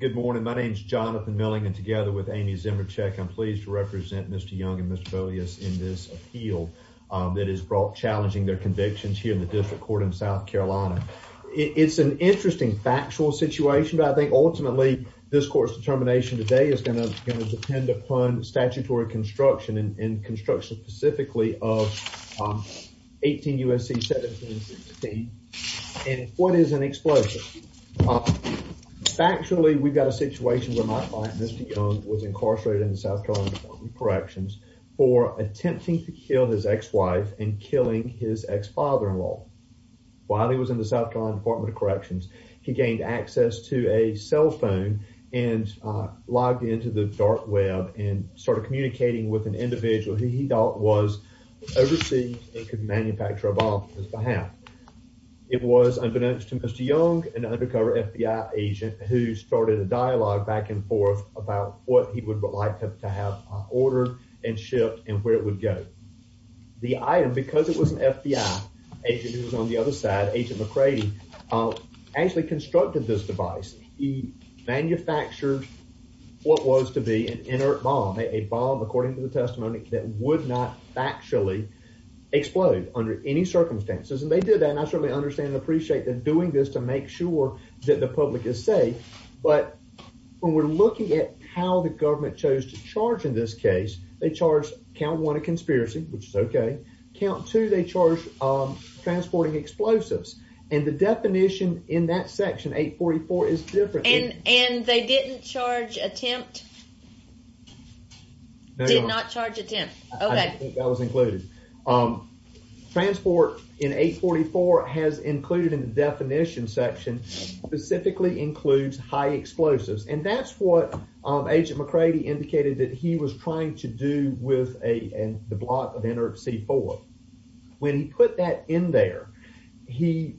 Good morning, my name is Jonathan Milling and together with Amy Zimerchuk, I'm pleased to represent Mr. Young and Mr. Beaulieu in this appeal that is brought challenging their convictions here in the district court in South Carolina. It's an interesting factual situation but I think ultimately this court's determination today is going to depend upon statutory construction and Factually, we've got a situation where my client, Mr. Young, was incarcerated in the South Carolina Department of Corrections for attempting to kill his ex-wife and killing his ex-father-in-law. While he was in the South Carolina Department of Corrections, he gained access to a cell phone and logged into the dark web and started communicating with an individual who he thought was overseas and could manufacture a bond on his behalf. It was unbeknownst to Mr. Young, an undercover FBI agent, who started a dialogue back and forth about what he would like to have ordered and shipped and where it would go. The item, because it was an FBI agent who was on the other side, Agent McCready, actually constructed this device. He manufactured what was to be an inert bomb, a bomb according to the testimony that would actually explode under any circumstances. They did that and I certainly understand and appreciate them doing this to make sure that the public is safe. When we're looking at how the government chose to charge in this case, they charged count one a conspiracy, which is okay. Count two, they charge transporting explosives. The definition in that section 844 is different. They didn't charge a tenth. Okay, that was included. Transport in 844 has included in the definition section specifically includes high explosives and that's what Agent McCready indicated that he was trying to do with a block of inert C4. When he put that in there, he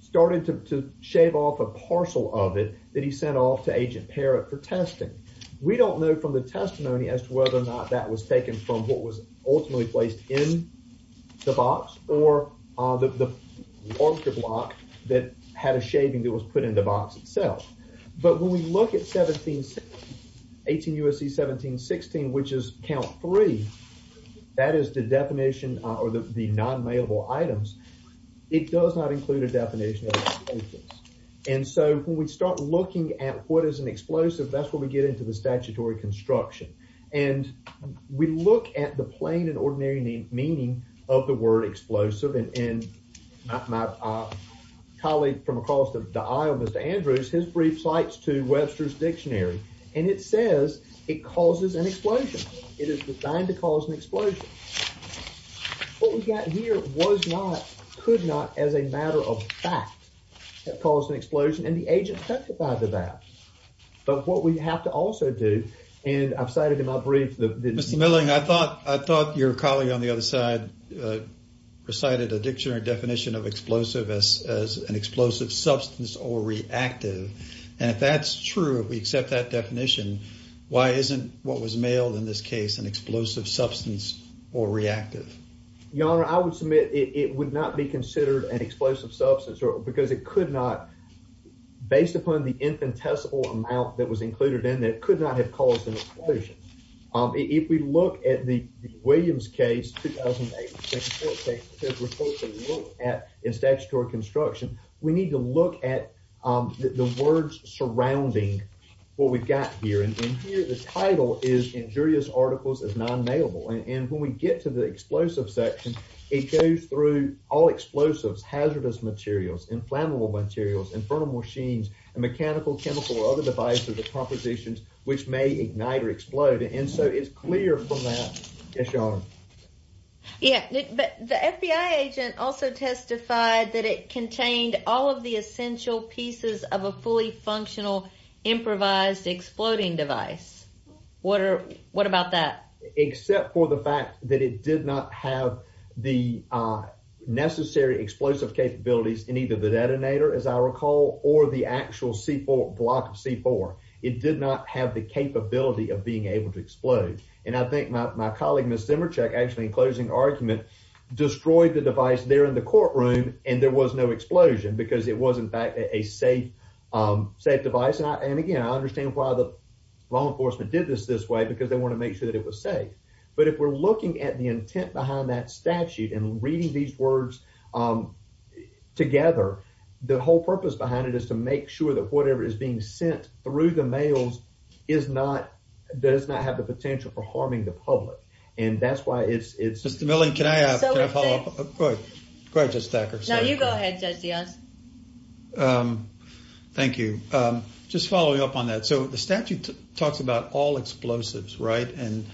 started to shave off a parcel of it that he sent off to Agent Parrott for testing. We don't know from the testimony as to whether or not that was taken from what was ultimately placed in the box or the larger block that had a shaving that was put in the box itself. But when we look at 18 U.S.C. 1716, which is count three, that is the definition or the non-mailable items. It does not include a definition of explosives. And so when we start looking at what is an explosive, that's where we get into the statutory construction. And we look at the plain and ordinary meaning of the word explosive. And in my colleague from across the aisle, Mr. Andrews, his brief cites to Webster's Dictionary and it says it causes an explosion. It is designed to cause an explosion. What we got here was not, could not as a matter of fact have caused an explosion and the agent testified to that. But what we have to also do, and I've cited in my brief that- Mr. Milling, I thought your colleague on the other side recited a dictionary definition of explosive as an explosive substance or reactive. And if that's true, if we accept that definition, why isn't what was mailed in this case an explosive substance or reactive? Your Honor, I would submit it would not be considered an explosive substance because it the infinitesimal amount that was included in that could not have caused an explosion. If we look at the Williams case, 2008, in statutory construction, we need to look at the words surrounding what we've got here. And here the title is injurious articles as non-mailable. And when we get to the explosive section, it goes through all explosives, hazardous materials, inflammable materials, infernal machines, and mechanical, chemical, or other devices or compositions which may ignite or explode. And so it's clear from that. Yes, Your Honor. Yeah, but the FBI agent also testified that it contained all of the essential pieces of a fully functional improvised exploding device. What about that? Except for the fact that it did not have the necessary explosive capabilities in either the detonator, as I recall, or the actual C4 block of C4. It did not have the capability of being able to explode. And I think my colleague, Ms. Zimerchuk, actually in closing argument, destroyed the device there in the courtroom and there was no explosion because it was in fact a safe device. And again, I understand why the law enforcement did this this way because they want to make sure that it was safe. But if we're looking at the intent behind that statute and reading these words together, the whole purpose behind it is to make sure that whatever is being sent through the mails does not have the potential for harming the public. And that's why it's... Mr. Milley, can I have a follow-up? Go ahead, Judge Thacker. No, you go ahead, Judge Dionne. Thank you. Just following up on that. So the statute talks about all explosives, right? And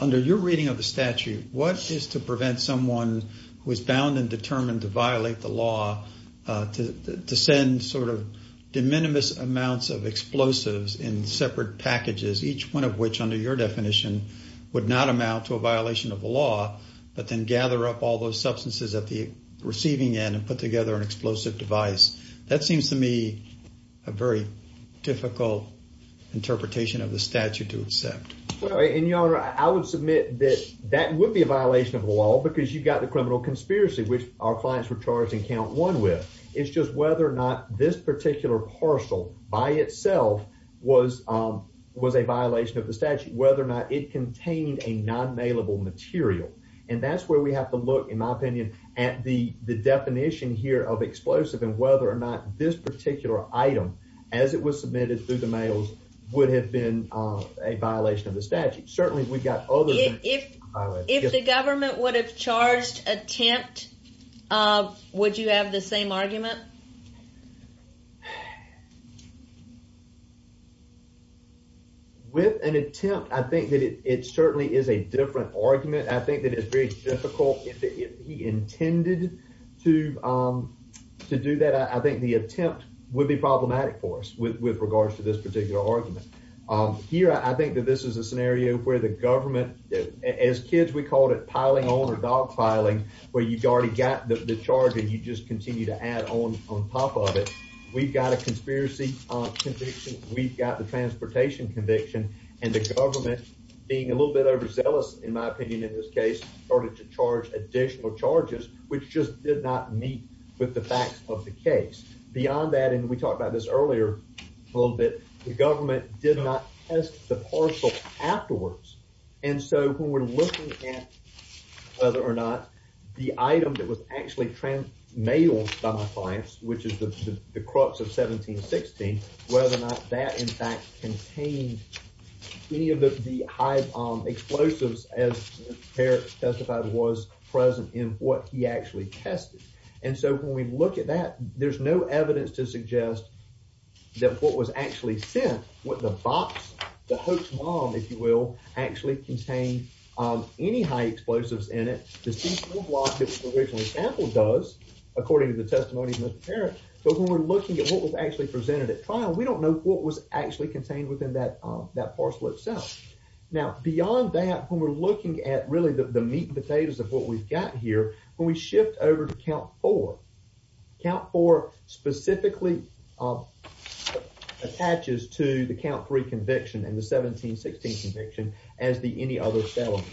under your reading of the statute, what is to prevent someone who is bound and determined to violate the law to send sort of de minimis amounts of explosives in separate packages, each one of which under your definition would not amount to a violation of the law, but then gather up all those substances at the device. That seems to me a very difficult interpretation of the statute to accept. And, Your Honor, I would submit that that would be a violation of the law because you've got the criminal conspiracy, which our clients were charged in count one with. It's just whether or not this particular parcel by itself was a violation of the statute, whether or not it contained a non-mailable material. And that's where we have to look, in my opinion, at the explosive and whether or not this particular item, as it was submitted through the mails, would have been a violation of the statute. Certainly, we've got other- If the government would have charged attempt, would you have the same argument? With an attempt, I think that it certainly is a different argument. I think that it's very difficult. If he intended to do that, I think the attempt would be problematic for us with regards to this particular argument. Here, I think that this is a scenario where the government, as kids, we called it piling on or dogpiling, where you've already got the charge and you just continue to add on top of it. We've got a conspiracy conviction. We've got the transportation conviction. And the government, being a little bit overzealous, in my opinion, in this case, started to charge additional charges, which just did not meet with the facts of the case. Beyond that, and we talked about this earlier a little bit, the government did not test the parcel afterwards. And so, when we're looking at whether or not the item that was actually mailed by my clients, which is the crux of 1716, whether or not that, in fact, contained any of the high explosives, as Mr. Parrott testified, was present in what he actually tested. And so, when we look at that, there's no evidence to suggest that what was actually sent, what the box, the hoax bomb, if you will, actually contained any high explosives in it. The city school block that was originally sampled does, according to the testimony of Mr. Parrott. But when we're looking at what was actually presented at trial, we don't know what was actually contained within that parcel itself. Now, beyond that, when we're looking at really the meat and potatoes of what we've got here, when we shift over to count four, count four specifically attaches to the count three conviction and the 1716 conviction as the any other felony.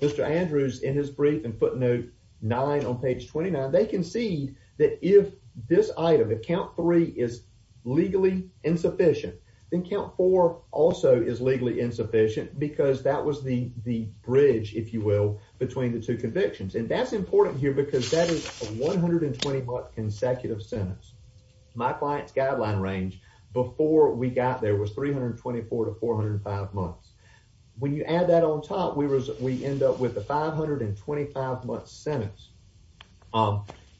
Mr. Andrews, in his brief in footnote nine on page 29, they concede that if this item, the count three, is legally insufficient, then count four also is legally insufficient because that was the bridge, if you will, between the two convictions. And that's important here because that is a 120-month consecutive sentence. My client's guideline range before we got there was 324 to 405 months. When you add that on top, we end up with the 525 month sentence,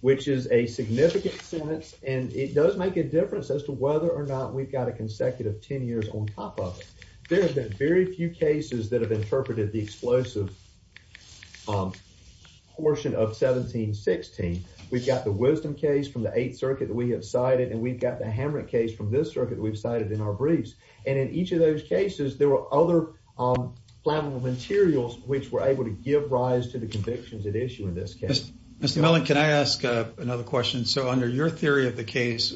which is a significant sentence. And it does make a difference as to whether or not we've got a consecutive 10 years on top of it. There have been very few cases that have interpreted the explosive portion of 1716. We've got the Wisdom case from the Eighth Circuit that we have cited, and we've got the Hamrick case from this circuit we've cited in our briefs. And in each of those cases, there were other flammable materials which were able to give rise to the convictions at issue in this case. Mr. Mellon, can I ask another question? So under your theory of the case,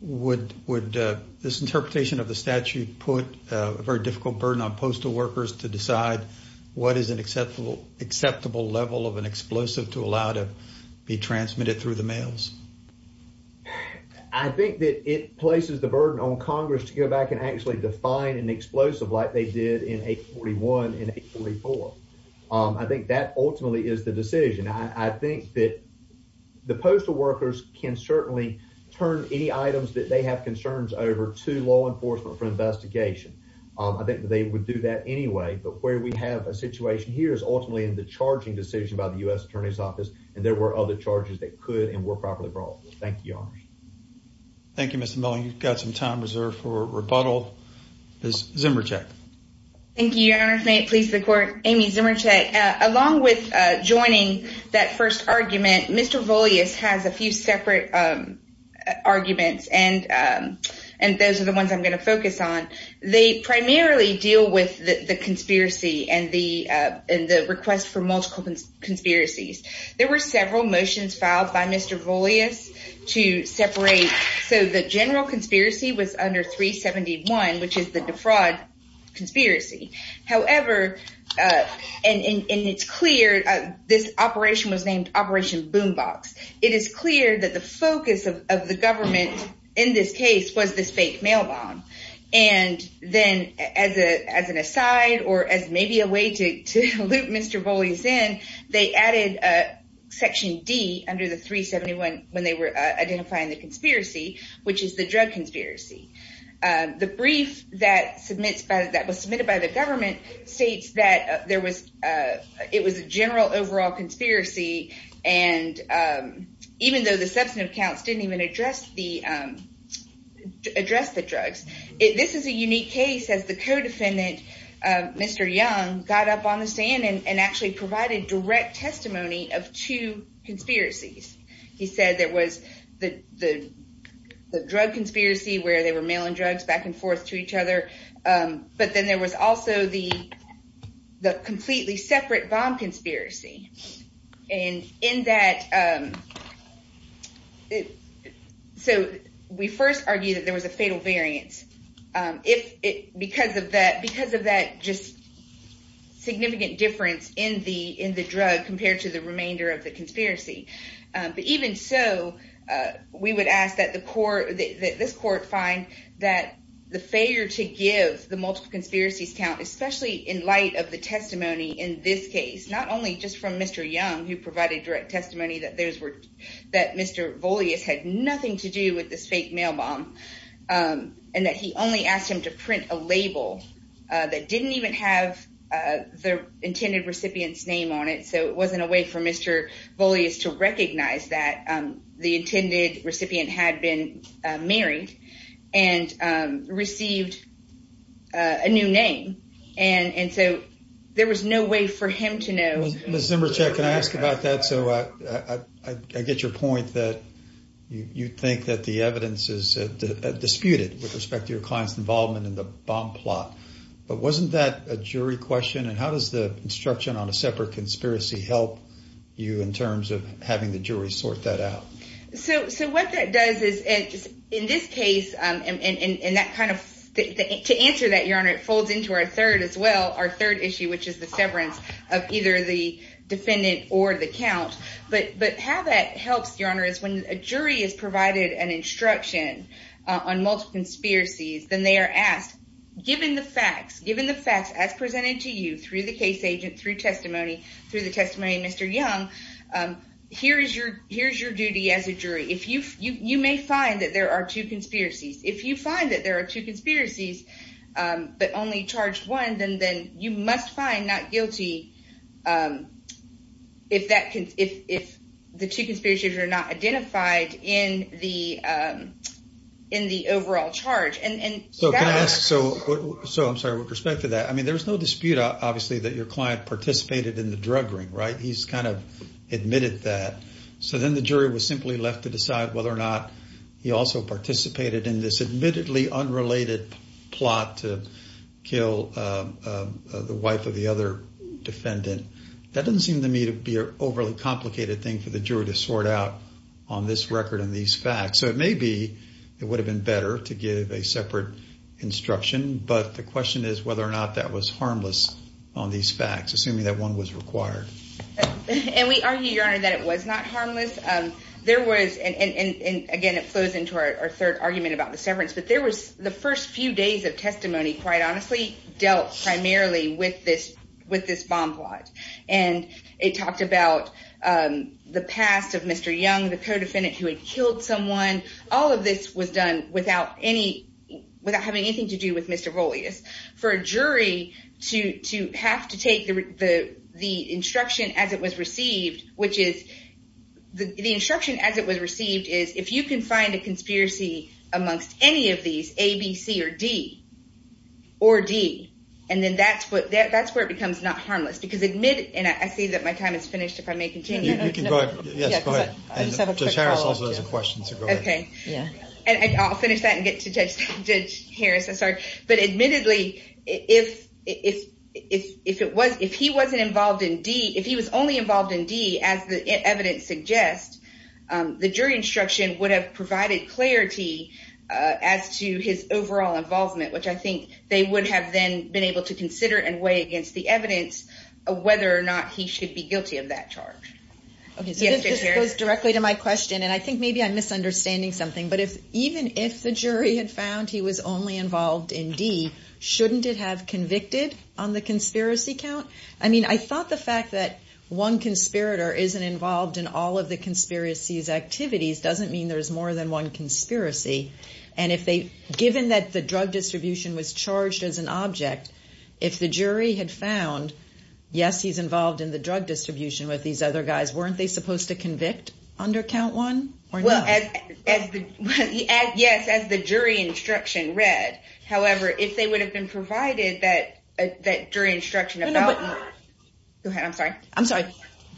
would this interpretation of the statute put a very difficult burden on postal workers to decide what is an acceptable level of an explosive to allow to be transmitted through the mails? I think that it places the burden on Congress to go back and actually define an explosive like they did in 841 and 844. I think that ultimately is the decision. I think that the postal workers can certainly turn any items that they have concerns over to law enforcement for investigation. I think they would do that anyway. But where we have a situation here is ultimately in the charging decision by the U.S. Attorney's Office, and there were other charges that could and were properly brought. Thank you, Your Honor. Thank you, Mr. Mellon. You've got some time reserved for rebuttal. Ms. Zimerchuk. Thank you, Your Honor. May it please the Court. Amy Zimerchuk. Along with joining that first argument, Mr. Volius has a few separate arguments, and those are the ones I'm going to focus on. They primarily deal with the conspiracy and the request for multiple conspiracies. There were several motions filed by Mr. Volius to separate. So the general conspiracy was under 371, which is the defraud conspiracy. However, and it's clear this operation was named Operation Boom Box. It is clear that the focus of the government in this case was this fake mail bomb. And then as an aside or as maybe a way to loop Mr. Volius in, they added Section D under the 371 when they were identifying the conspiracy, which is the drug conspiracy. The brief that was submitted by the government states that it was a general overall conspiracy, even though the substantive accounts didn't even address the drugs. This is a unique case as the co-defendant, Mr. Young, got up on the stand and actually provided direct testimony of two conspiracies. He said there was the drug conspiracy where they were mailing drugs back and forth to each other, but then there was also the completely separate bomb conspiracy. And in that, so we first argue that there was a fatal variance because of that just significant difference in the drug compared to the remainder of the conspiracy. But even so, we would ask that this court find that the failure to give the multiple conspiracies count, especially in light of the testimony in this case, not only just from Mr. Young, who provided direct testimony that Mr. Volius had nothing to do with this fake mail bomb, and that he only asked him to print a label that didn't even have the intended recipient's name on it. So it wasn't a way for Mr. Volius to recognize that the intended recipient had been married and received a new name. And so there was no way for him to know. Ms. Zimbrichek, can I ask about that? So I get your point that you think that the evidence is disputed with respect to your client's involvement in the bomb plot, but wasn't that a jury question? And how does the instruction on a separate conspiracy help you in terms of having the jury sort that out? So what that does is, in this case, and to answer that, Your Honor, it folds into our third issue, which is the severance of either the defendant or the count. But how that helps, Your Honor, is when a jury is provided an instruction on multiple conspiracies, then they are asked, given the facts, given the facts as presented to you through the case agent, through testimony, through the testimony of Mr. Young, here's your duty as a jury. You may find that there are two conspiracies. If you find that there are two conspiracies, but only charged one, then you must find not guilty if the two conspiracies are not identified in the overall charge. So I'm sorry, with respect to that, I mean, there's no dispute, obviously, that your client participated in the drug ring, right? He's kind of admitted that. So then the jury was simply left to decide whether or not he also participated in this admittedly unrelated plot to kill the wife of the other defendant. That doesn't seem to me to be an overly complicated thing for the jury to sort out on this record and these facts. So it may be, it would have been better to give a separate instruction. But the question is whether or not that was harmless on these facts, assuming that one was required. And we argue, Your Honor, that it was not harmless. There was, and again, it flows into our third argument about the severance, but there was the first few days of testimony, quite honestly, dealt primarily with this bomb plot. And it talked about the past of Mr. Young, the co-defendant who had killed someone. All of this was done without having anything to do with Mr. Rolius. For a jury to have to take the instruction as it was received, which is, the instruction as it was received is, if you can find a conspiracy amongst any of these, A, B, C, or D, or D, and then that's where it becomes not harmless. Because admittedly, and I see that my time is finished, if I may continue. You can go ahead. Yes, go ahead. I just have a quick follow-up, too. Judge Harris also has a question, so go ahead. Okay. And I'll finish that and get to Judge Young. I just have a quick follow-up, too. If he was only involved in D, as the evidence suggests, the jury instruction would have provided clarity as to his overall involvement, which I think they would have then been able to consider and weigh against the evidence whether or not he should be guilty of that charge. Okay, so this goes directly to my question, and I think maybe I'm misunderstanding something. But even if the jury had found he was only involved in D, shouldn't it have convicted on the conspiracy count? I mean, I thought the fact that one conspirator isn't involved in all of the conspiracy's activities doesn't mean there's more than one conspiracy. And if they, given that the drug distribution was charged as an object, if the jury had found, yes, he's involved in the drug distribution with these other guys, weren't they supposed to convict under count one or not? Well, yes, as the jury instruction read. However, if they would have been provided that jury instruction about... Go ahead. I'm sorry. I'm sorry.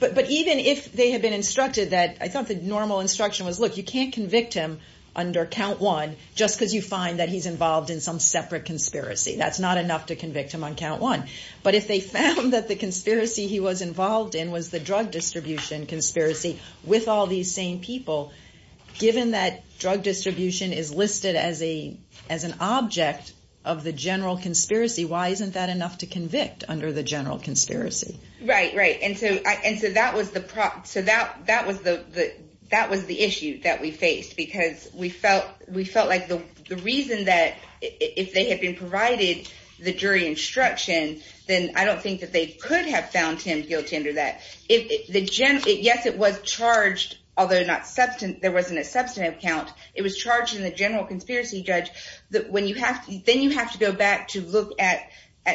But even if they had been instructed that, I thought the normal instruction was, look, you can't convict him under count one just because you find that he's involved in some separate conspiracy. That's not enough to convict him on count one. But if they found that the conspiracy he was involved in was the drug distribution conspiracy with all these same people, given that drug distribution is listed as an object of the general conspiracy, why isn't that enough to convict under the general conspiracy? Right. Right. And so that was the issue that we faced because we felt like the reason that if they had been provided the jury instruction, then I don't think that they could have found him guilty under that. Yes, it was charged, although there wasn't a substantive count, it was charged in the general conspiracy judge. Then you have to go back to look at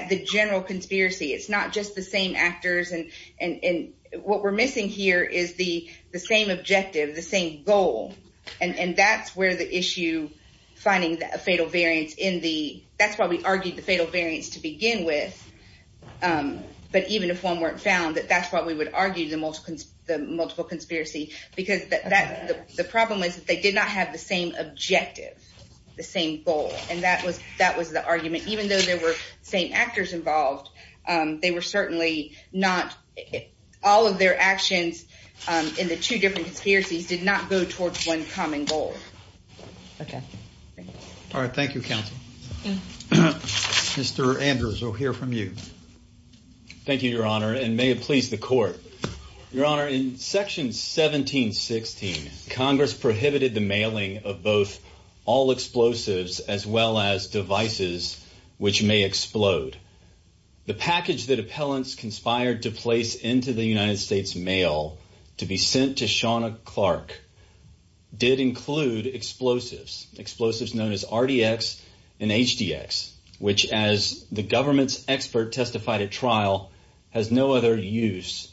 the general conspiracy. It's not just the same actors. And what we're missing here is the same objective, the same goal. And that's where the issue finding a fatal variance in the... That's why we would argue the multiple conspiracy, because the problem is that they did not have the same objective, the same goal. And that was the argument, even though there were same actors involved, they were certainly not... All of their actions in the two different conspiracies did not go towards one common goal. Okay. All right. Thank you, counsel. Mr. Andrews, we'll hear from you. Thank you, your honor, and may it please the court. Your honor, in section 1716, Congress prohibited the mailing of both all explosives as well as devices which may explode. The package that appellants conspired to place into the United States mail to be sent to Shawna Clark did include explosives, explosives known as RDX and HDX, which as the government's expert testified at trial has no other use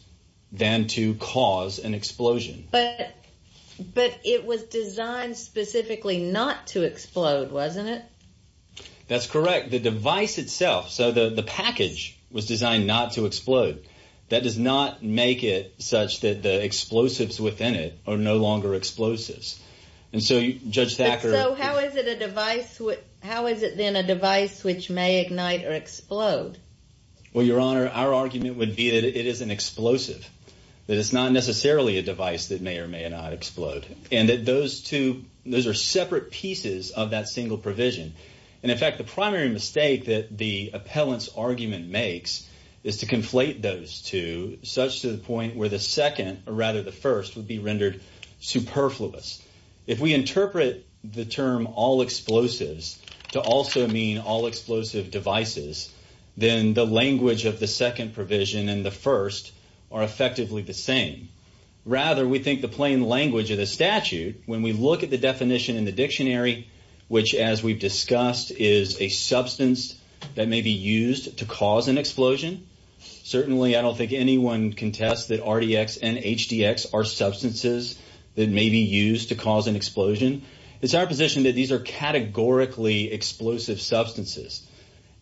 than to cause an explosion. But it was designed specifically not to explode, wasn't it? That's correct. The device itself, so the package was designed not to explode. That does not make it such that the explosives within it are no longer explosives. And so Judge Thacker... So how is it then a device which may ignite or explode? Well, your honor, our argument would be that it is an explosive, that it's not necessarily a device that may or may not explode. And that those two, those are separate pieces of that single provision. And in fact, the primary mistake that the appellant's argument makes is to conflate those two such to the point where the second or rather the first would be rendered superfluous. If we of the second provision and the first are effectively the same. Rather, we think the plain language of the statute, when we look at the definition in the dictionary, which as we've discussed is a substance that may be used to cause an explosion. Certainly, I don't think anyone can test that RDX and HDX are substances that may be used to cause an explosion. It's our position that these are categorically explosive substances.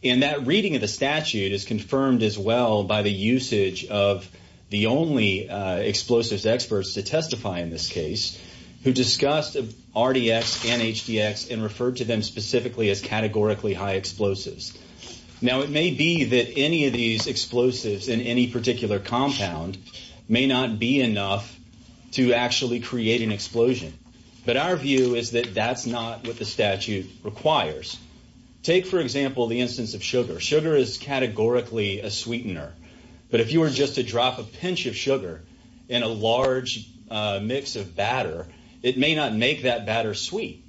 And that reading of the statute is confirmed as well by the usage of the only explosives experts to testify in this case, who discussed RDX and HDX and referred to them specifically as categorically high explosives. Now, it may be that any of these explosives in any particular compound may not be enough to actually create an explosion. But our statute requires. Take, for example, the instance of sugar. Sugar is categorically a sweetener. But if you were just to drop a pinch of sugar in a large mix of batter, it may not make that batter sweet.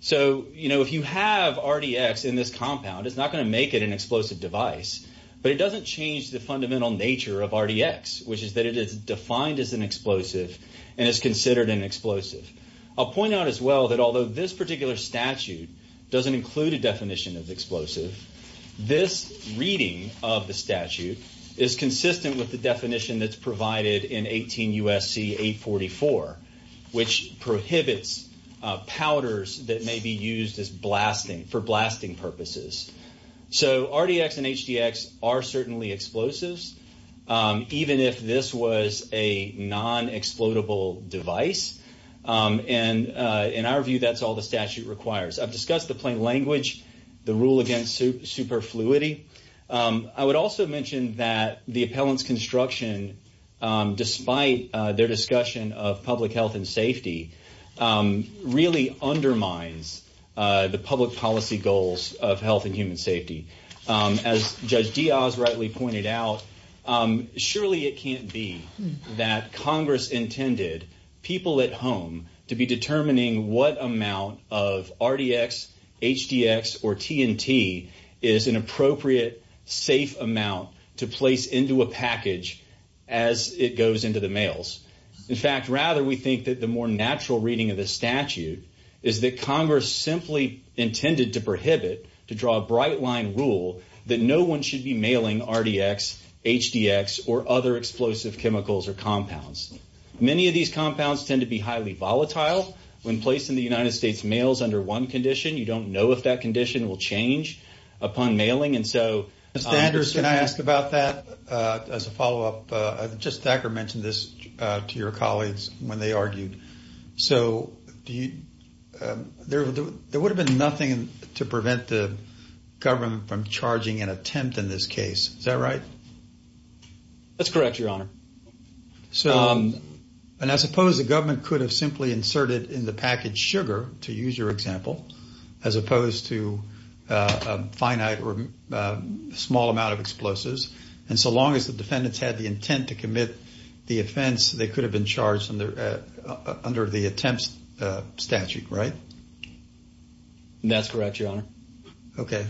So, you know, if you have RDX in this compound, it's not going to make it an explosive device. But it doesn't change the fundamental nature of RDX, which is that it is defined as an explosive and is considered an explosive. I'll point out as well that although this particular statute doesn't include a definition of explosive, this reading of the statute is consistent with the definition that's provided in 18 U.S.C. 844, which prohibits powders that may be used as a non-explodable device. And in our view, that's all the statute requires. I've discussed the plain language, the rule against superfluity. I would also mention that the appellant's construction, despite their discussion of public health and safety, really undermines the public policy goals of health and human safety. As Judge Diaz rightly pointed out, surely it can't be that Congress intended people at home to be determining what amount of RDX, HDX, or TNT is an appropriate, safe amount to place into a package as it goes into the mails. In fact, rather, we think that the more natural reading of the statute is that Congress simply intended to draw a bright-line rule that no one should be mailing RDX, HDX, or other explosive chemicals or compounds. Many of these compounds tend to be highly volatile. When placed in the United States mails under one condition, you don't know if that condition will change upon mailing. And so, Mr. Anders, can I ask about that as a follow-up? Just Thacker mentioned this to your colleagues when they argued. So there would have been nothing to prevent the government from charging an attempt in this case. Is that right? That's correct, Your Honor. And I suppose the government could have simply inserted in the package sugar, to use your example, as opposed to a finite or small amount of explosives. And so long as the defendants had intent to commit the offense, they could have been charged under the attempts statute, right? That's correct, Your Honor. Okay.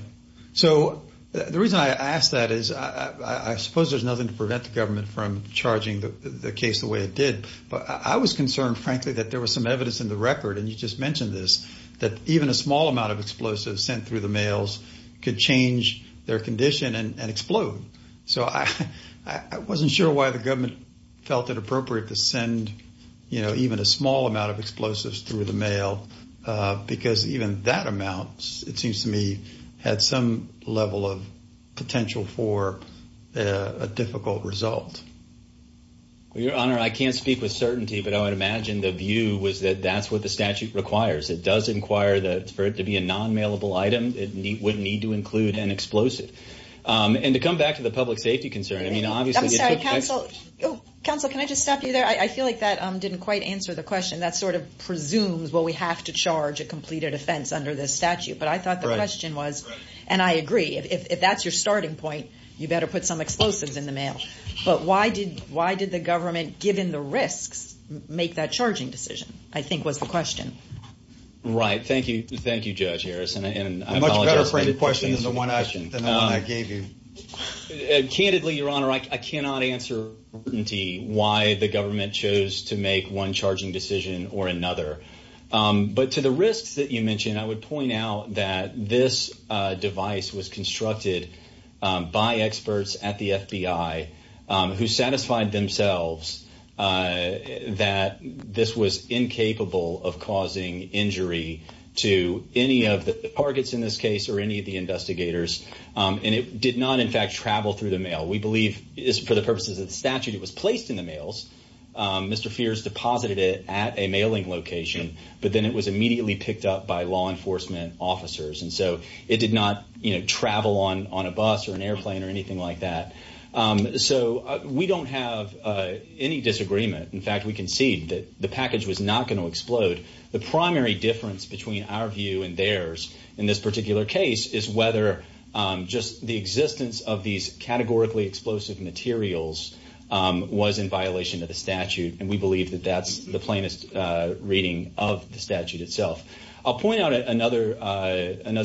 So the reason I ask that is I suppose there's nothing to prevent the government from charging the case the way it did. But I was concerned, frankly, that there was some evidence in the record, and you just mentioned this, that even a small amount of explosives sent through the mails could change their condition and explode. So I wasn't sure why the government felt it appropriate to send even a small amount of explosives through the mail, because even that amount, it seems to me, had some level of potential for a difficult result. Well, Your Honor, I can't speak with certainty, but I would imagine the view was that that's the statute requires. It does inquire that for it to be a non-mailable item, it would need to include an explosive. And to come back to the public safety concern, I mean, obviously... I'm sorry, counsel. Counsel, can I just stop you there? I feel like that didn't quite answer the question. That sort of presumes, well, we have to charge a completed offense under this statute. But I thought the question was, and I agree, if that's your starting point, you better put some explosives in the mail. But why did the government, given the risks, make that charging decision, I think was the question. Right. Thank you. Thank you, Judge Harris. And I apologize. A much better framed question than the one I gave you. Candidly, Your Honor, I cannot answer why the government chose to make one charging decision or another. But to the risks that you mentioned, I would point out that this device was constructed by experts at the FBI who satisfied themselves that this was incapable of causing injury to any of the targets in this case or any of the investigators. And it did not, in fact, travel through the mail. We believe, for the purposes of the statute, it was placed in the mails. Mr. Fears deposited it at a mailing location, but then it was immediately picked up by law enforcement officers. And so it did not travel on a bus or an airplane or anything like that. So we don't have any disagreement. In fact, we concede that the package was not going to explode. The primary difference between our view and theirs in this particular case is whether just the existence of these categorically explosive materials was in violation of the statute itself. I'll point out another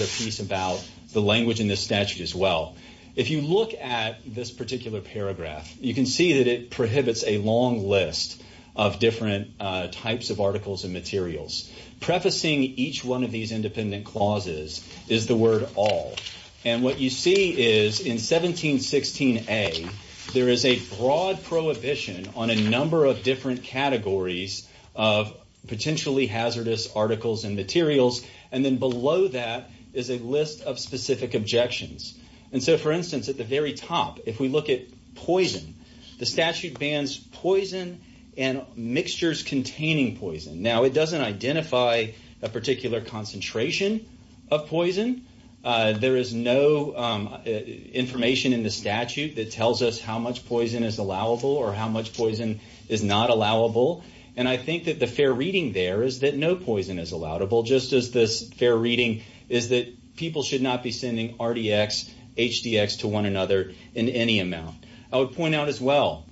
piece about the language in this statute as well. If you look at this particular paragraph, you can see that it prohibits a long list of different types of articles and materials. Prefacing each one of these independent clauses is the word all. And what you see is in 1716A, there is a broad prohibition on a number of categories of potentially hazardous articles and materials. And then below that is a list of specific objections. And so, for instance, at the very top, if we look at poison, the statute bans poison and mixtures containing poison. Now, it doesn't identify a particular concentration of poison. There is no information in the statute that tells us how much poison is allowable or how little is allowable. And I think that the fair reading there is that no poison is allowable, just as this fair reading is that people should not be sending RDX, HDX to one another in any amount. I would point out as well,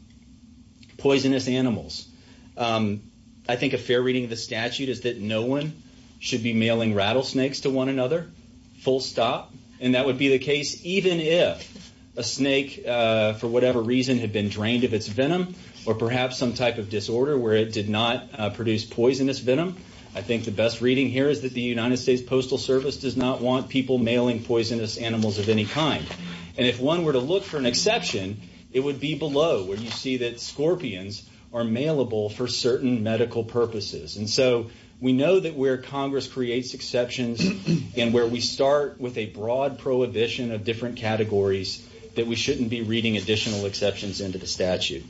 poisonous animals. I think a fair reading of the statute is that no one should be mailing rattlesnakes to one another, full stop. And that would be the case even if a snake, for whatever reason, had been drained of its venom or perhaps some type of disorder where it did not produce poisonous venom. I think the best reading here is that the United States Postal Service does not want people mailing poisonous animals of any kind. And if one were to look for an exception, it would be below, where you see that scorpions are mailable for certain medical purposes. And so, we know that where Congress creates exceptions and where we start with a broad prohibition of different categories, that we shouldn't be reading additional exceptions into the statute.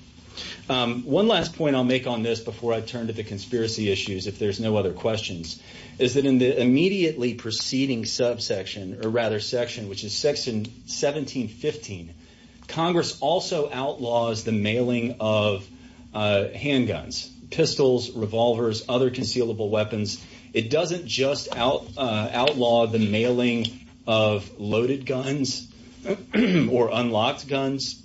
One last point I'll make on this before I turn to the conspiracy issues, if there's no other questions, is that in the immediately preceding subsection, or rather section, which is section 1715, Congress also outlaws the mailing of handguns, pistols, revolvers, other concealable weapons. It doesn't just outlaw the mailing of loaded guns or unlocked guns.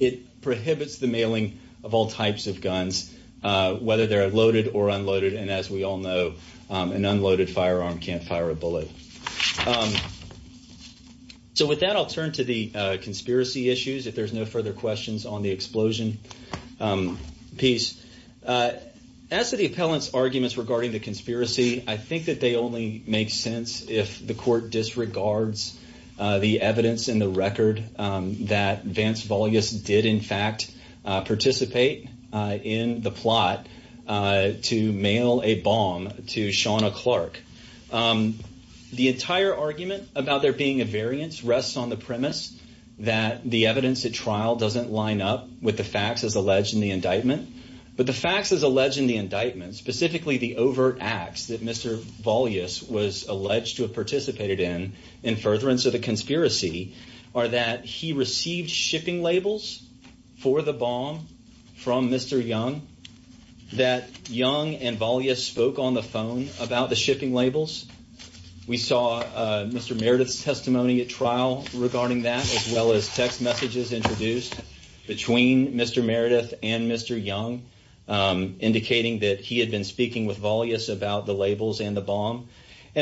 It prohibits the mailing of all types of guns, whether they're loaded or unloaded. And as we all know, an unloaded firearm can't fire a bullet. So with that, I'll turn to the conspiracy issues, if there's no further questions on the explosion piece. As to the appellant's arguments regarding the conspiracy, I think that they only make sense if the court disregards the evidence in the record that Vance Vollius did, in fact, participate in the plot to mail a bomb to Shawna Clark. The entire argument about there being a variance rests on the premise that the evidence at trial doesn't line up with the facts as alleged in the indictment. But the facts as alleged in the indictment, specifically the overt acts that Mr. Vollius was alleged to have participated in, in furtherance of the conspiracy, are that he received shipping labels for the bomb from Mr. Young, that Young and Vollius spoke on the phone about the shipping labels. We saw Mr. Meredith's testimony at trial regarding that, as well as text messages introduced between Mr. Meredith and Mr. Young, indicating that he had been speaking with And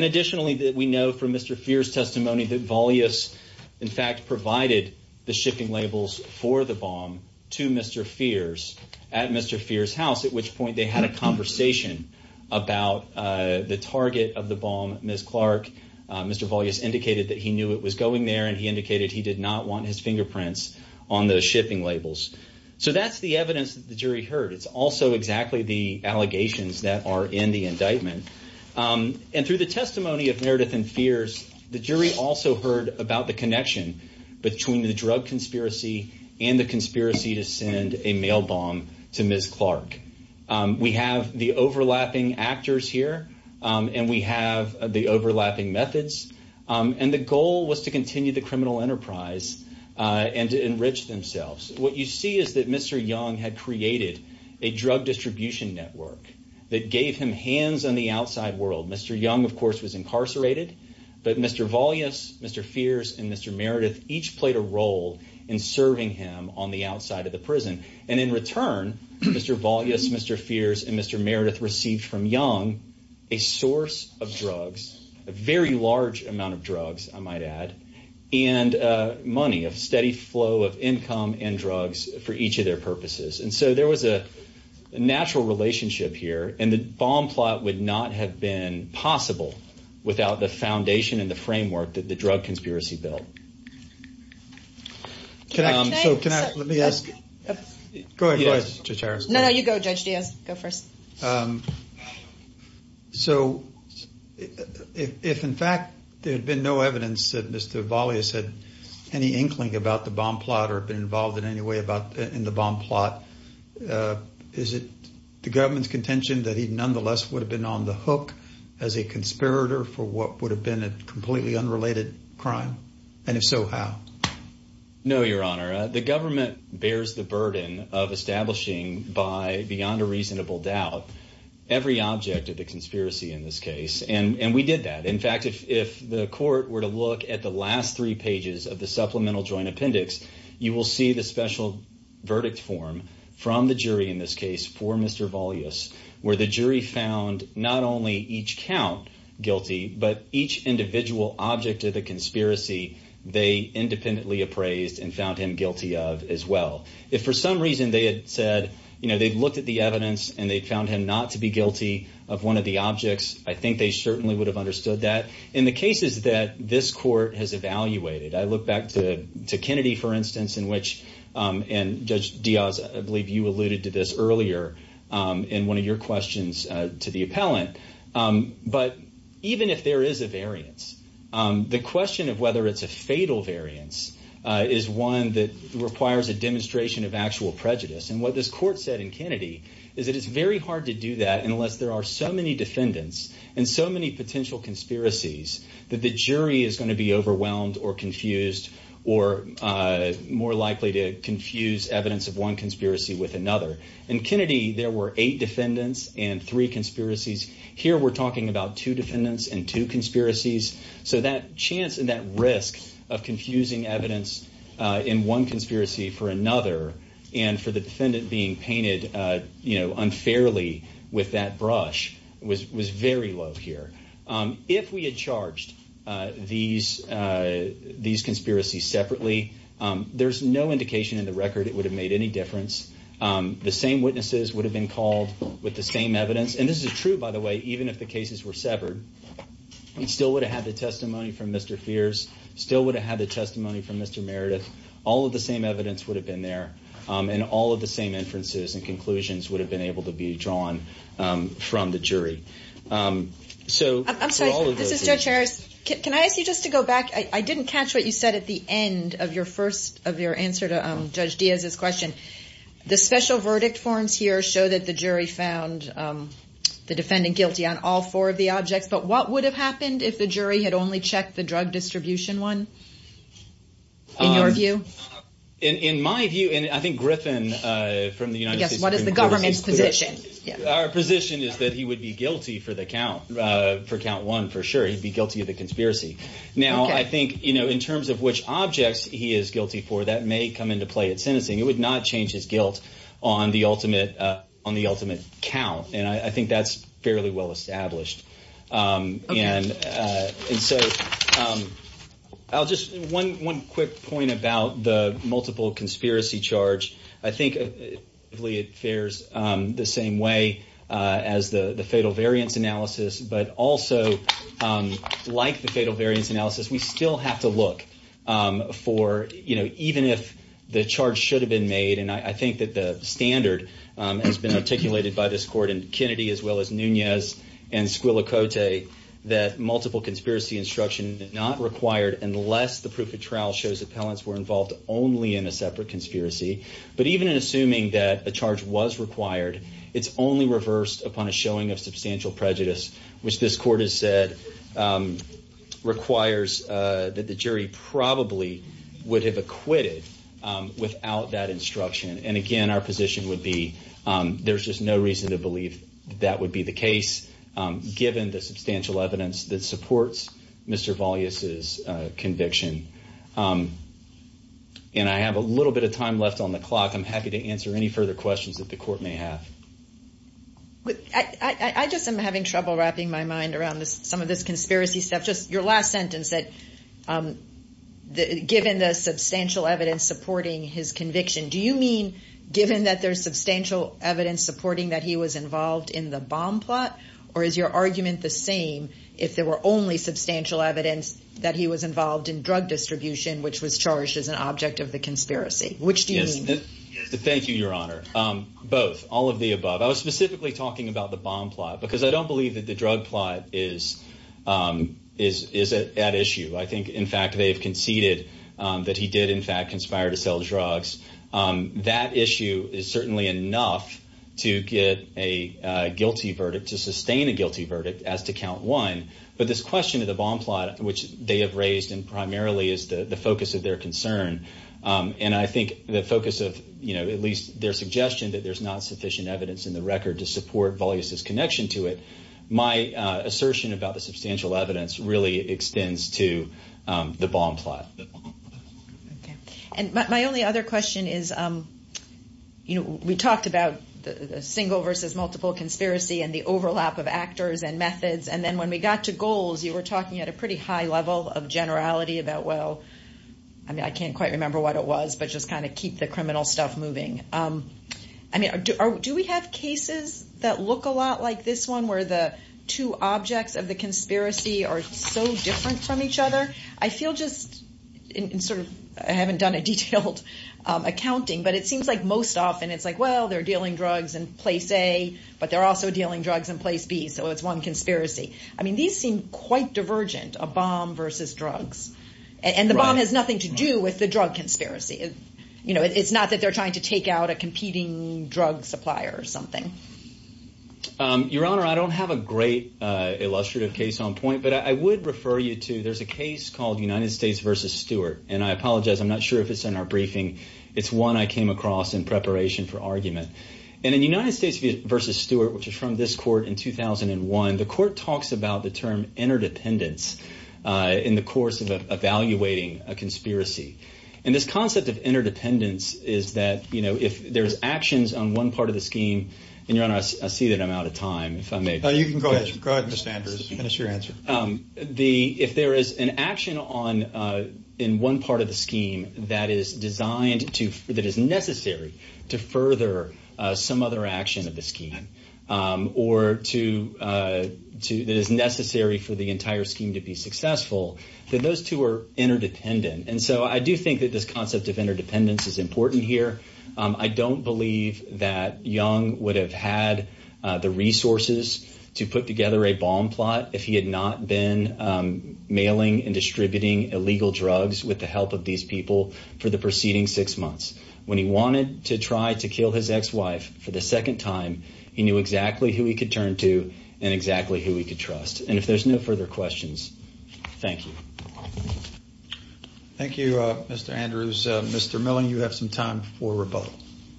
additionally, we know from Mr. Feers' testimony that Vollius, in fact, provided the shipping labels for the bomb to Mr. Feers at Mr. Feers' house, at which point they had a conversation about the target of the bomb, Ms. Clark. Mr. Vollius indicated that he knew it was going there, and he indicated he did not want his fingerprints on the shipping labels. So that's the evidence that the jury heard. It's also exactly the allegations that are in the indictment. And through the testimony of Meredith and Feers, the jury also heard about the connection between the drug conspiracy and the conspiracy to send a mail bomb to Ms. Clark. We have the overlapping actors here, and we have the overlapping methods. And the goal was to continue the criminal enterprise and to enrich themselves. What you see is that Mr. Young had created a drug distribution network that gave him hands on the outside world. Mr. Young, of course, was incarcerated, but Mr. Vollius, Mr. Feers, and Mr. Meredith each played a role in serving him on the outside of the prison. And in return, Mr. Vollius, Mr. Feers, and Mr. Meredith received from Young a source of drugs, a very large amount of drugs, I might add, and money, a steady flow of income and drugs for each of their purposes. And so there was a natural relationship here, and the bomb plot would not have been possible without the foundation and the framework that the drug conspiracy built. Can I, so can I, let me ask, go ahead, Judge Harris. No, no, you go, Judge Diaz, go first. So if, in fact, there had been no evidence that Mr. Vollius had any inkling about the bomb plot or been involved in any way about in the bomb plot, is it the government's contention that he nonetheless would have been on the hook as a conspirator for what would have been a completely unrelated crime? And if so, how? No, Your Honor, the government bears the burden of establishing by beyond a reasonable doubt every object of the conspiracy in this case. And we did that. In fact, if the court were to look at the last three pages of the supplemental joint appendix, you will see the special verdict form from the jury in this case for Mr. Vollius, where the jury found not only each count guilty, but each individual object of the conspiracy they independently appraised and found him guilty of as well. If for some reason they had said, you know, they'd looked at the evidence and they found him not to be guilty of one of the objects, I think they certainly would have understood that. In the cases that this court has evaluated, I look back to Kennedy, for instance, in which, and Judge Diaz, I believe you alluded to this earlier in one of your questions to the appellant. But even if there is a variance, the question of whether it's a fatal variance is one that requires a demonstration of actual prejudice. And what this so many potential conspiracies that the jury is going to be overwhelmed or confused or more likely to confuse evidence of one conspiracy with another. In Kennedy, there were eight defendants and three conspiracies. Here we're talking about two defendants and two conspiracies. So that chance and that risk of confusing evidence in one conspiracy for another, and for the defendant being painted, you know, unfairly with that brush was very low here. If we had charged these conspiracies separately, there's no indication in the record it would have made any difference. The same witnesses would have been called with the same evidence. And this is true, by the way, even if the cases were severed, he still would have had the testimony from Mr. Fierce, still would have had the testimony from Mr. Meredith. All of the same would have been there. And all of the same inferences and conclusions would have been able to be drawn from the jury. I'm sorry, this is Judge Harris. Can I ask you just to go back? I didn't catch what you said at the end of your first of your answer to Judge Diaz's question. The special verdict forms here show that the jury found the defendant guilty on all four of the objects. But what would have happened if the jury had only checked the drug distribution one, in your view, in my view? And I think Griffin from the United States, what is the government's position? Our position is that he would be guilty for the count for count one, for sure. He'd be guilty of the conspiracy. Now, I think, you know, in terms of which objects he is guilty for, that may come into play at sentencing. It would not change his guilt on the ultimate, on the ultimate count. And I think that's fairly well established. And so I'll just one quick point about the multiple conspiracy charge. I think it fares the same way as the fatal variance analysis, but also like the fatal variance analysis, we still have to look for, you know, even if the charge should have been made. And I think that the standard has been articulated by this court in Kennedy, as well as Nunez and Squillicote, that multiple conspiracy instruction is not required unless the proof of trial shows appellants were involved only in a separate conspiracy. But even in assuming that a charge was required, it's only reversed upon a showing of substantial prejudice, which this court has said requires that the jury probably would have acquitted without that instruction. And again, our position would be there's just no reason to believe that would be the case, given the substantial evidence that supports Mr. Valle's conviction. And I have a little bit of time left on the clock. I'm happy to answer any further questions that the court may have. I just am having trouble wrapping my mind around this, some of this conspiracy stuff. Just your last sentence that given the substantial evidence supporting his conviction, do you mean given that there's substantial evidence supporting that he was your argument the same if there were only substantial evidence that he was involved in drug distribution, which was charged as an object of the conspiracy? Which do you mean? Thank you, Your Honor. Both, all of the above. I was specifically talking about the bomb plot because I don't believe that the drug plot is at issue. I think, in fact, they've conceded that he did, in fact, conspire to sell drugs. That issue is certainly enough to get a guilty verdict as to count one. But this question of the bomb plot, which they have raised, and primarily is the focus of their concern, and I think the focus of, you know, at least their suggestion that there's not sufficient evidence in the record to support Valle's connection to it. My assertion about the substantial evidence really extends to the bomb plot. And my only other question is, you know, we talked about the single versus multiple conspiracy and overlap of actors and methods. And then when we got to goals, you were talking at a pretty high level of generality about, well, I mean, I can't quite remember what it was, but just kind of keep the criminal stuff moving. I mean, do we have cases that look a lot like this one where the two objects of the conspiracy are so different from each other? I feel just in sort of, I haven't done a detailed accounting, but it seems like most often it's like, well, they're dealing drugs in place A, but they're also dealing drugs in place B. So it's one conspiracy. I mean, these seem quite divergent, a bomb versus drugs. And the bomb has nothing to do with the drug conspiracy. You know, it's not that they're trying to take out a competing drug supplier or something. Your Honor, I don't have a great illustrative case on point, but I would refer you to, there's a case called United States versus Stewart. And I apologize, I'm not sure if it's in our briefing. It's one I came across in preparation for argument. And in United States versus Stewart, which is from this court in 2001, the court talks about the term interdependence in the course of evaluating a conspiracy. And this concept of interdependence is that, you know, if there's actions on one part of the scheme, and Your Honor, I see that I'm out of time. You can go ahead. Go ahead, Mr. Andrews. That's your answer. The, if there is an action on, in one part of the scheme that is designed to, that is necessary to further some other action of the scheme, or to, that is necessary for the entire scheme to be successful, then those two are interdependent. And so I do think that this concept of interdependence is important here. I don't believe that Young would have had the resources to put together a scheme that would have not been mailing and distributing illegal drugs with the help of these people for the preceding six months. When he wanted to try to kill his ex-wife for the second time, he knew exactly who he could turn to and exactly who he could trust. And if there's no further questions, thank you. Thank you, Mr. Andrews. Mr. Milling, you have some time before rebuttal.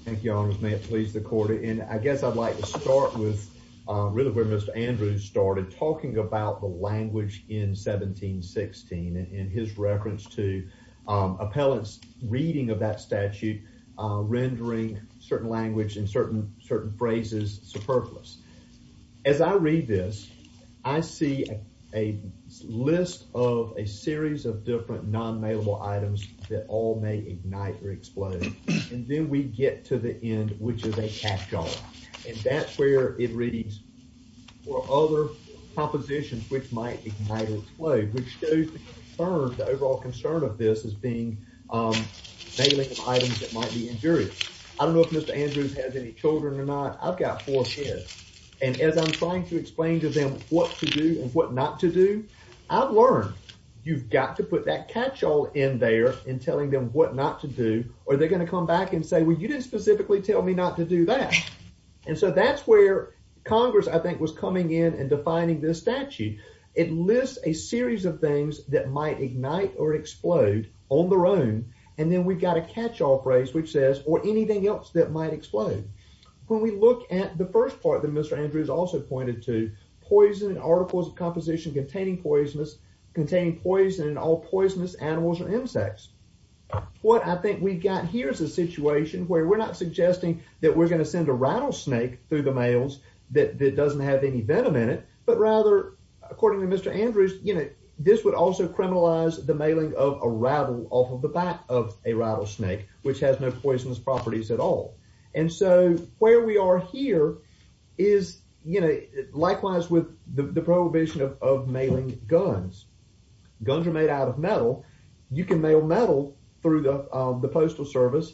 Thank you, Your Honor. May it please the court. And I guess I'd like to start with really where Mr. Andrews started talking about the language in 1716 and his reference to appellants reading of that statute, rendering certain language and certain phrases superfluous. As I read this, I see a list of a series of different non-mailable items that all may which is a catch-all. And that's where it reads, or other propositions which might ignite or explode, which shows the concern, the overall concern of this as being mailing of items that might be injurious. I don't know if Mr. Andrews has any children or not. I've got four kids. And as I'm trying to explain to them what to do and what not to do, I've learned you've got to put that catch-all in there and telling them what not to do or they're going to come back and tell me not to do that. And so that's where Congress, I think, was coming in and defining this statute. It lists a series of things that might ignite or explode on their own. And then we've got a catch-all phrase which says, or anything else that might explode. When we look at the first part that Mr. Andrews also pointed to, poison and articles of composition containing poison and all poisonous animals and insects. What I think we've got here is a situation where we're not suggesting that we're going to send a rattlesnake through the mails that doesn't have any venom in it, but rather, according to Mr. Andrews, this would also criminalize the mailing of a rattle off of the back of a rattlesnake, which has no poisonous properties at all. And so where we are here is likewise with the prohibition of mailing guns. Guns are made out of metal. You can mail metal through the postal service,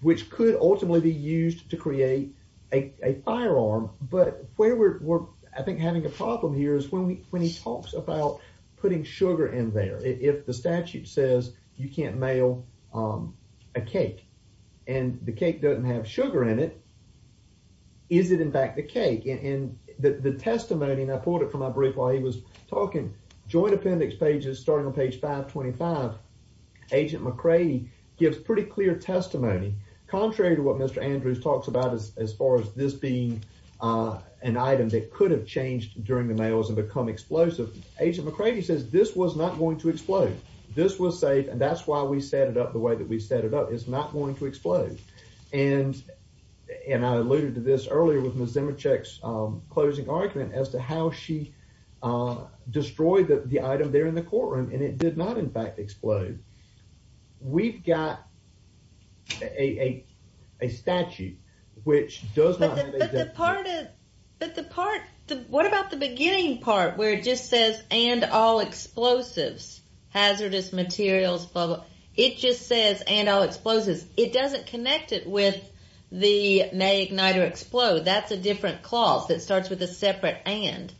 which could ultimately be used to create a firearm. But where we're, I think, having a problem here is when he talks about putting sugar in there. If the statute says you can't mail a cake and the cake doesn't have sugar in it, is it in fact the cake? And the testimony, and I pulled it from my brief while he was talking, joint appendix pages starting on page 525, Agent McCready gives pretty clear testimony. Contrary to what Mr. Andrews talks about as far as this being an item that could have changed during the mails and become explosive, Agent McCready says this was not going to explode. This was safe and that's why we set it up the way that we set it up. It's not going to explode. And I alluded to this earlier with Ms. Zemechek's closing argument as to how she destroyed the item there in the courtroom and it did not, in fact, explode. We've got a statute which does not... But the part, what about the beginning part where it just says and all explosives, hazardous materials, blah blah. It just says and all explosives. It doesn't connect it with the may ignite or explode. That's a different clause that starts with a separate and.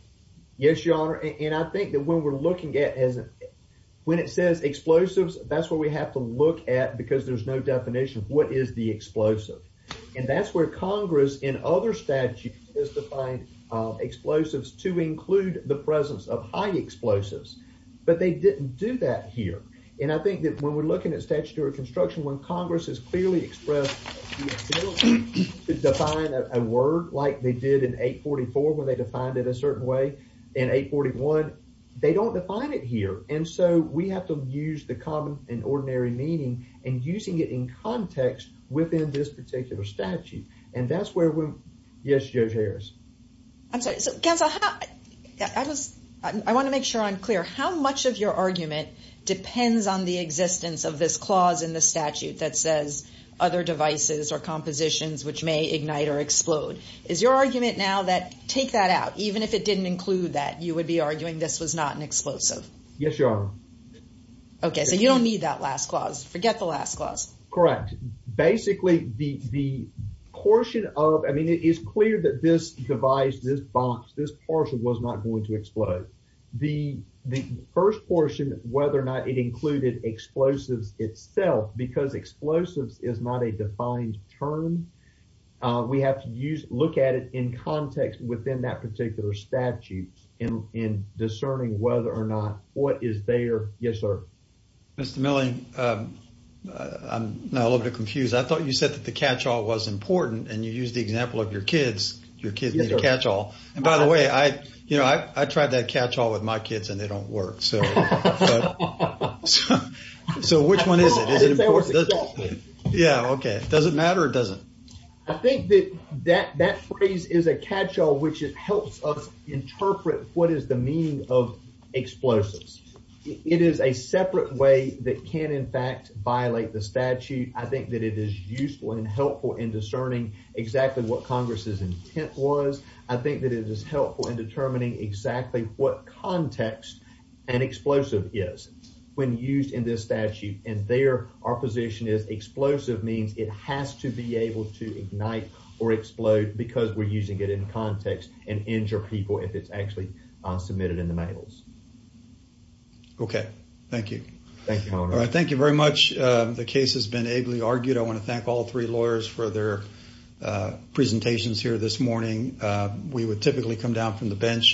Yes, Your Honor. And I think that when we're looking at, when it says explosives, that's where we have to look at because there's no definition of what is the explosive. And that's where Congress in other statutes has defined explosives to include the presence of high explosives. But they didn't do that here. And I think that when we're looking at statutory construction, when Congress has clearly expressed the ability to define a word like they did in 844 when they defined it a certain way in 841, they don't define it here. And so we have to use the common and ordinary meaning and using it in context within this particular statute. And that's where we... Yes, Judge Harris. I'm sorry. So counsel, I want to make sure I'm clear. How much of your argument depends on the existence of this clause in the statute that says other devices or compositions which may ignite or explode? Is your argument now that, take that out, even if it didn't include that, you would be arguing this was not an explosive? Yes, Your Honor. Okay. So you don't need that last clause. Forget the last clause. Correct. Basically, the portion of, I mean, it is clear that this device, this box, this portion was not going to explode. The first portion, whether or not it included explosives itself, because explosives is not a defined term, we have to look at it in context within that particular statute in discerning whether or not what is there. Yes, sir. Mr. Milley, I'm a little bit confused. I thought you said that the catch-all was important and you used the example of your kids. Your kids need a catch-all. And by the way, I tried that catch-all with my kids and they don't work. So which one is it? Yeah, okay. Does it matter or doesn't? I think that that phrase is a catch-all, which it helps us interpret what is the meaning of explosives. It is a separate way that can in fact violate the statute. I think that it is useful and helpful in discerning exactly what Congress's intent was. I think that it is helpful in understanding what context an explosive is when used in this statute. And there, our position is explosive means it has to be able to ignite or explode because we're using it in context and injure people if it's actually submitted in the mails. Okay, thank you. Thank you, Your Honor. All right, thank you very much. The case has been ably argued. I want to thank all three lawyers for their presentations here this morning. We would typically come down from the office.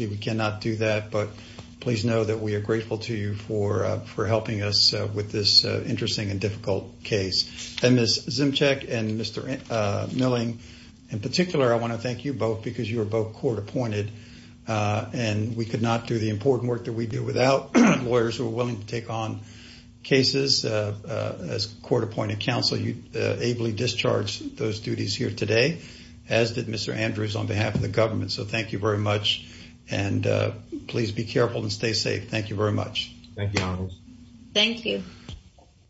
We cannot do that, but please know that we are grateful to you for helping us with this interesting and difficult case. And Ms. Zymchek and Mr. Milling, in particular, I want to thank you both because you were both court appointed and we could not do the important work that we do without lawyers who are willing to take on cases. As court-appointed counsel, you ably discharged those duties here today, as did Mr. Andrews on behalf of the government. So thank you very much and please be careful and stay safe. Thank you very much. Thank you, Your Honor. Thank you.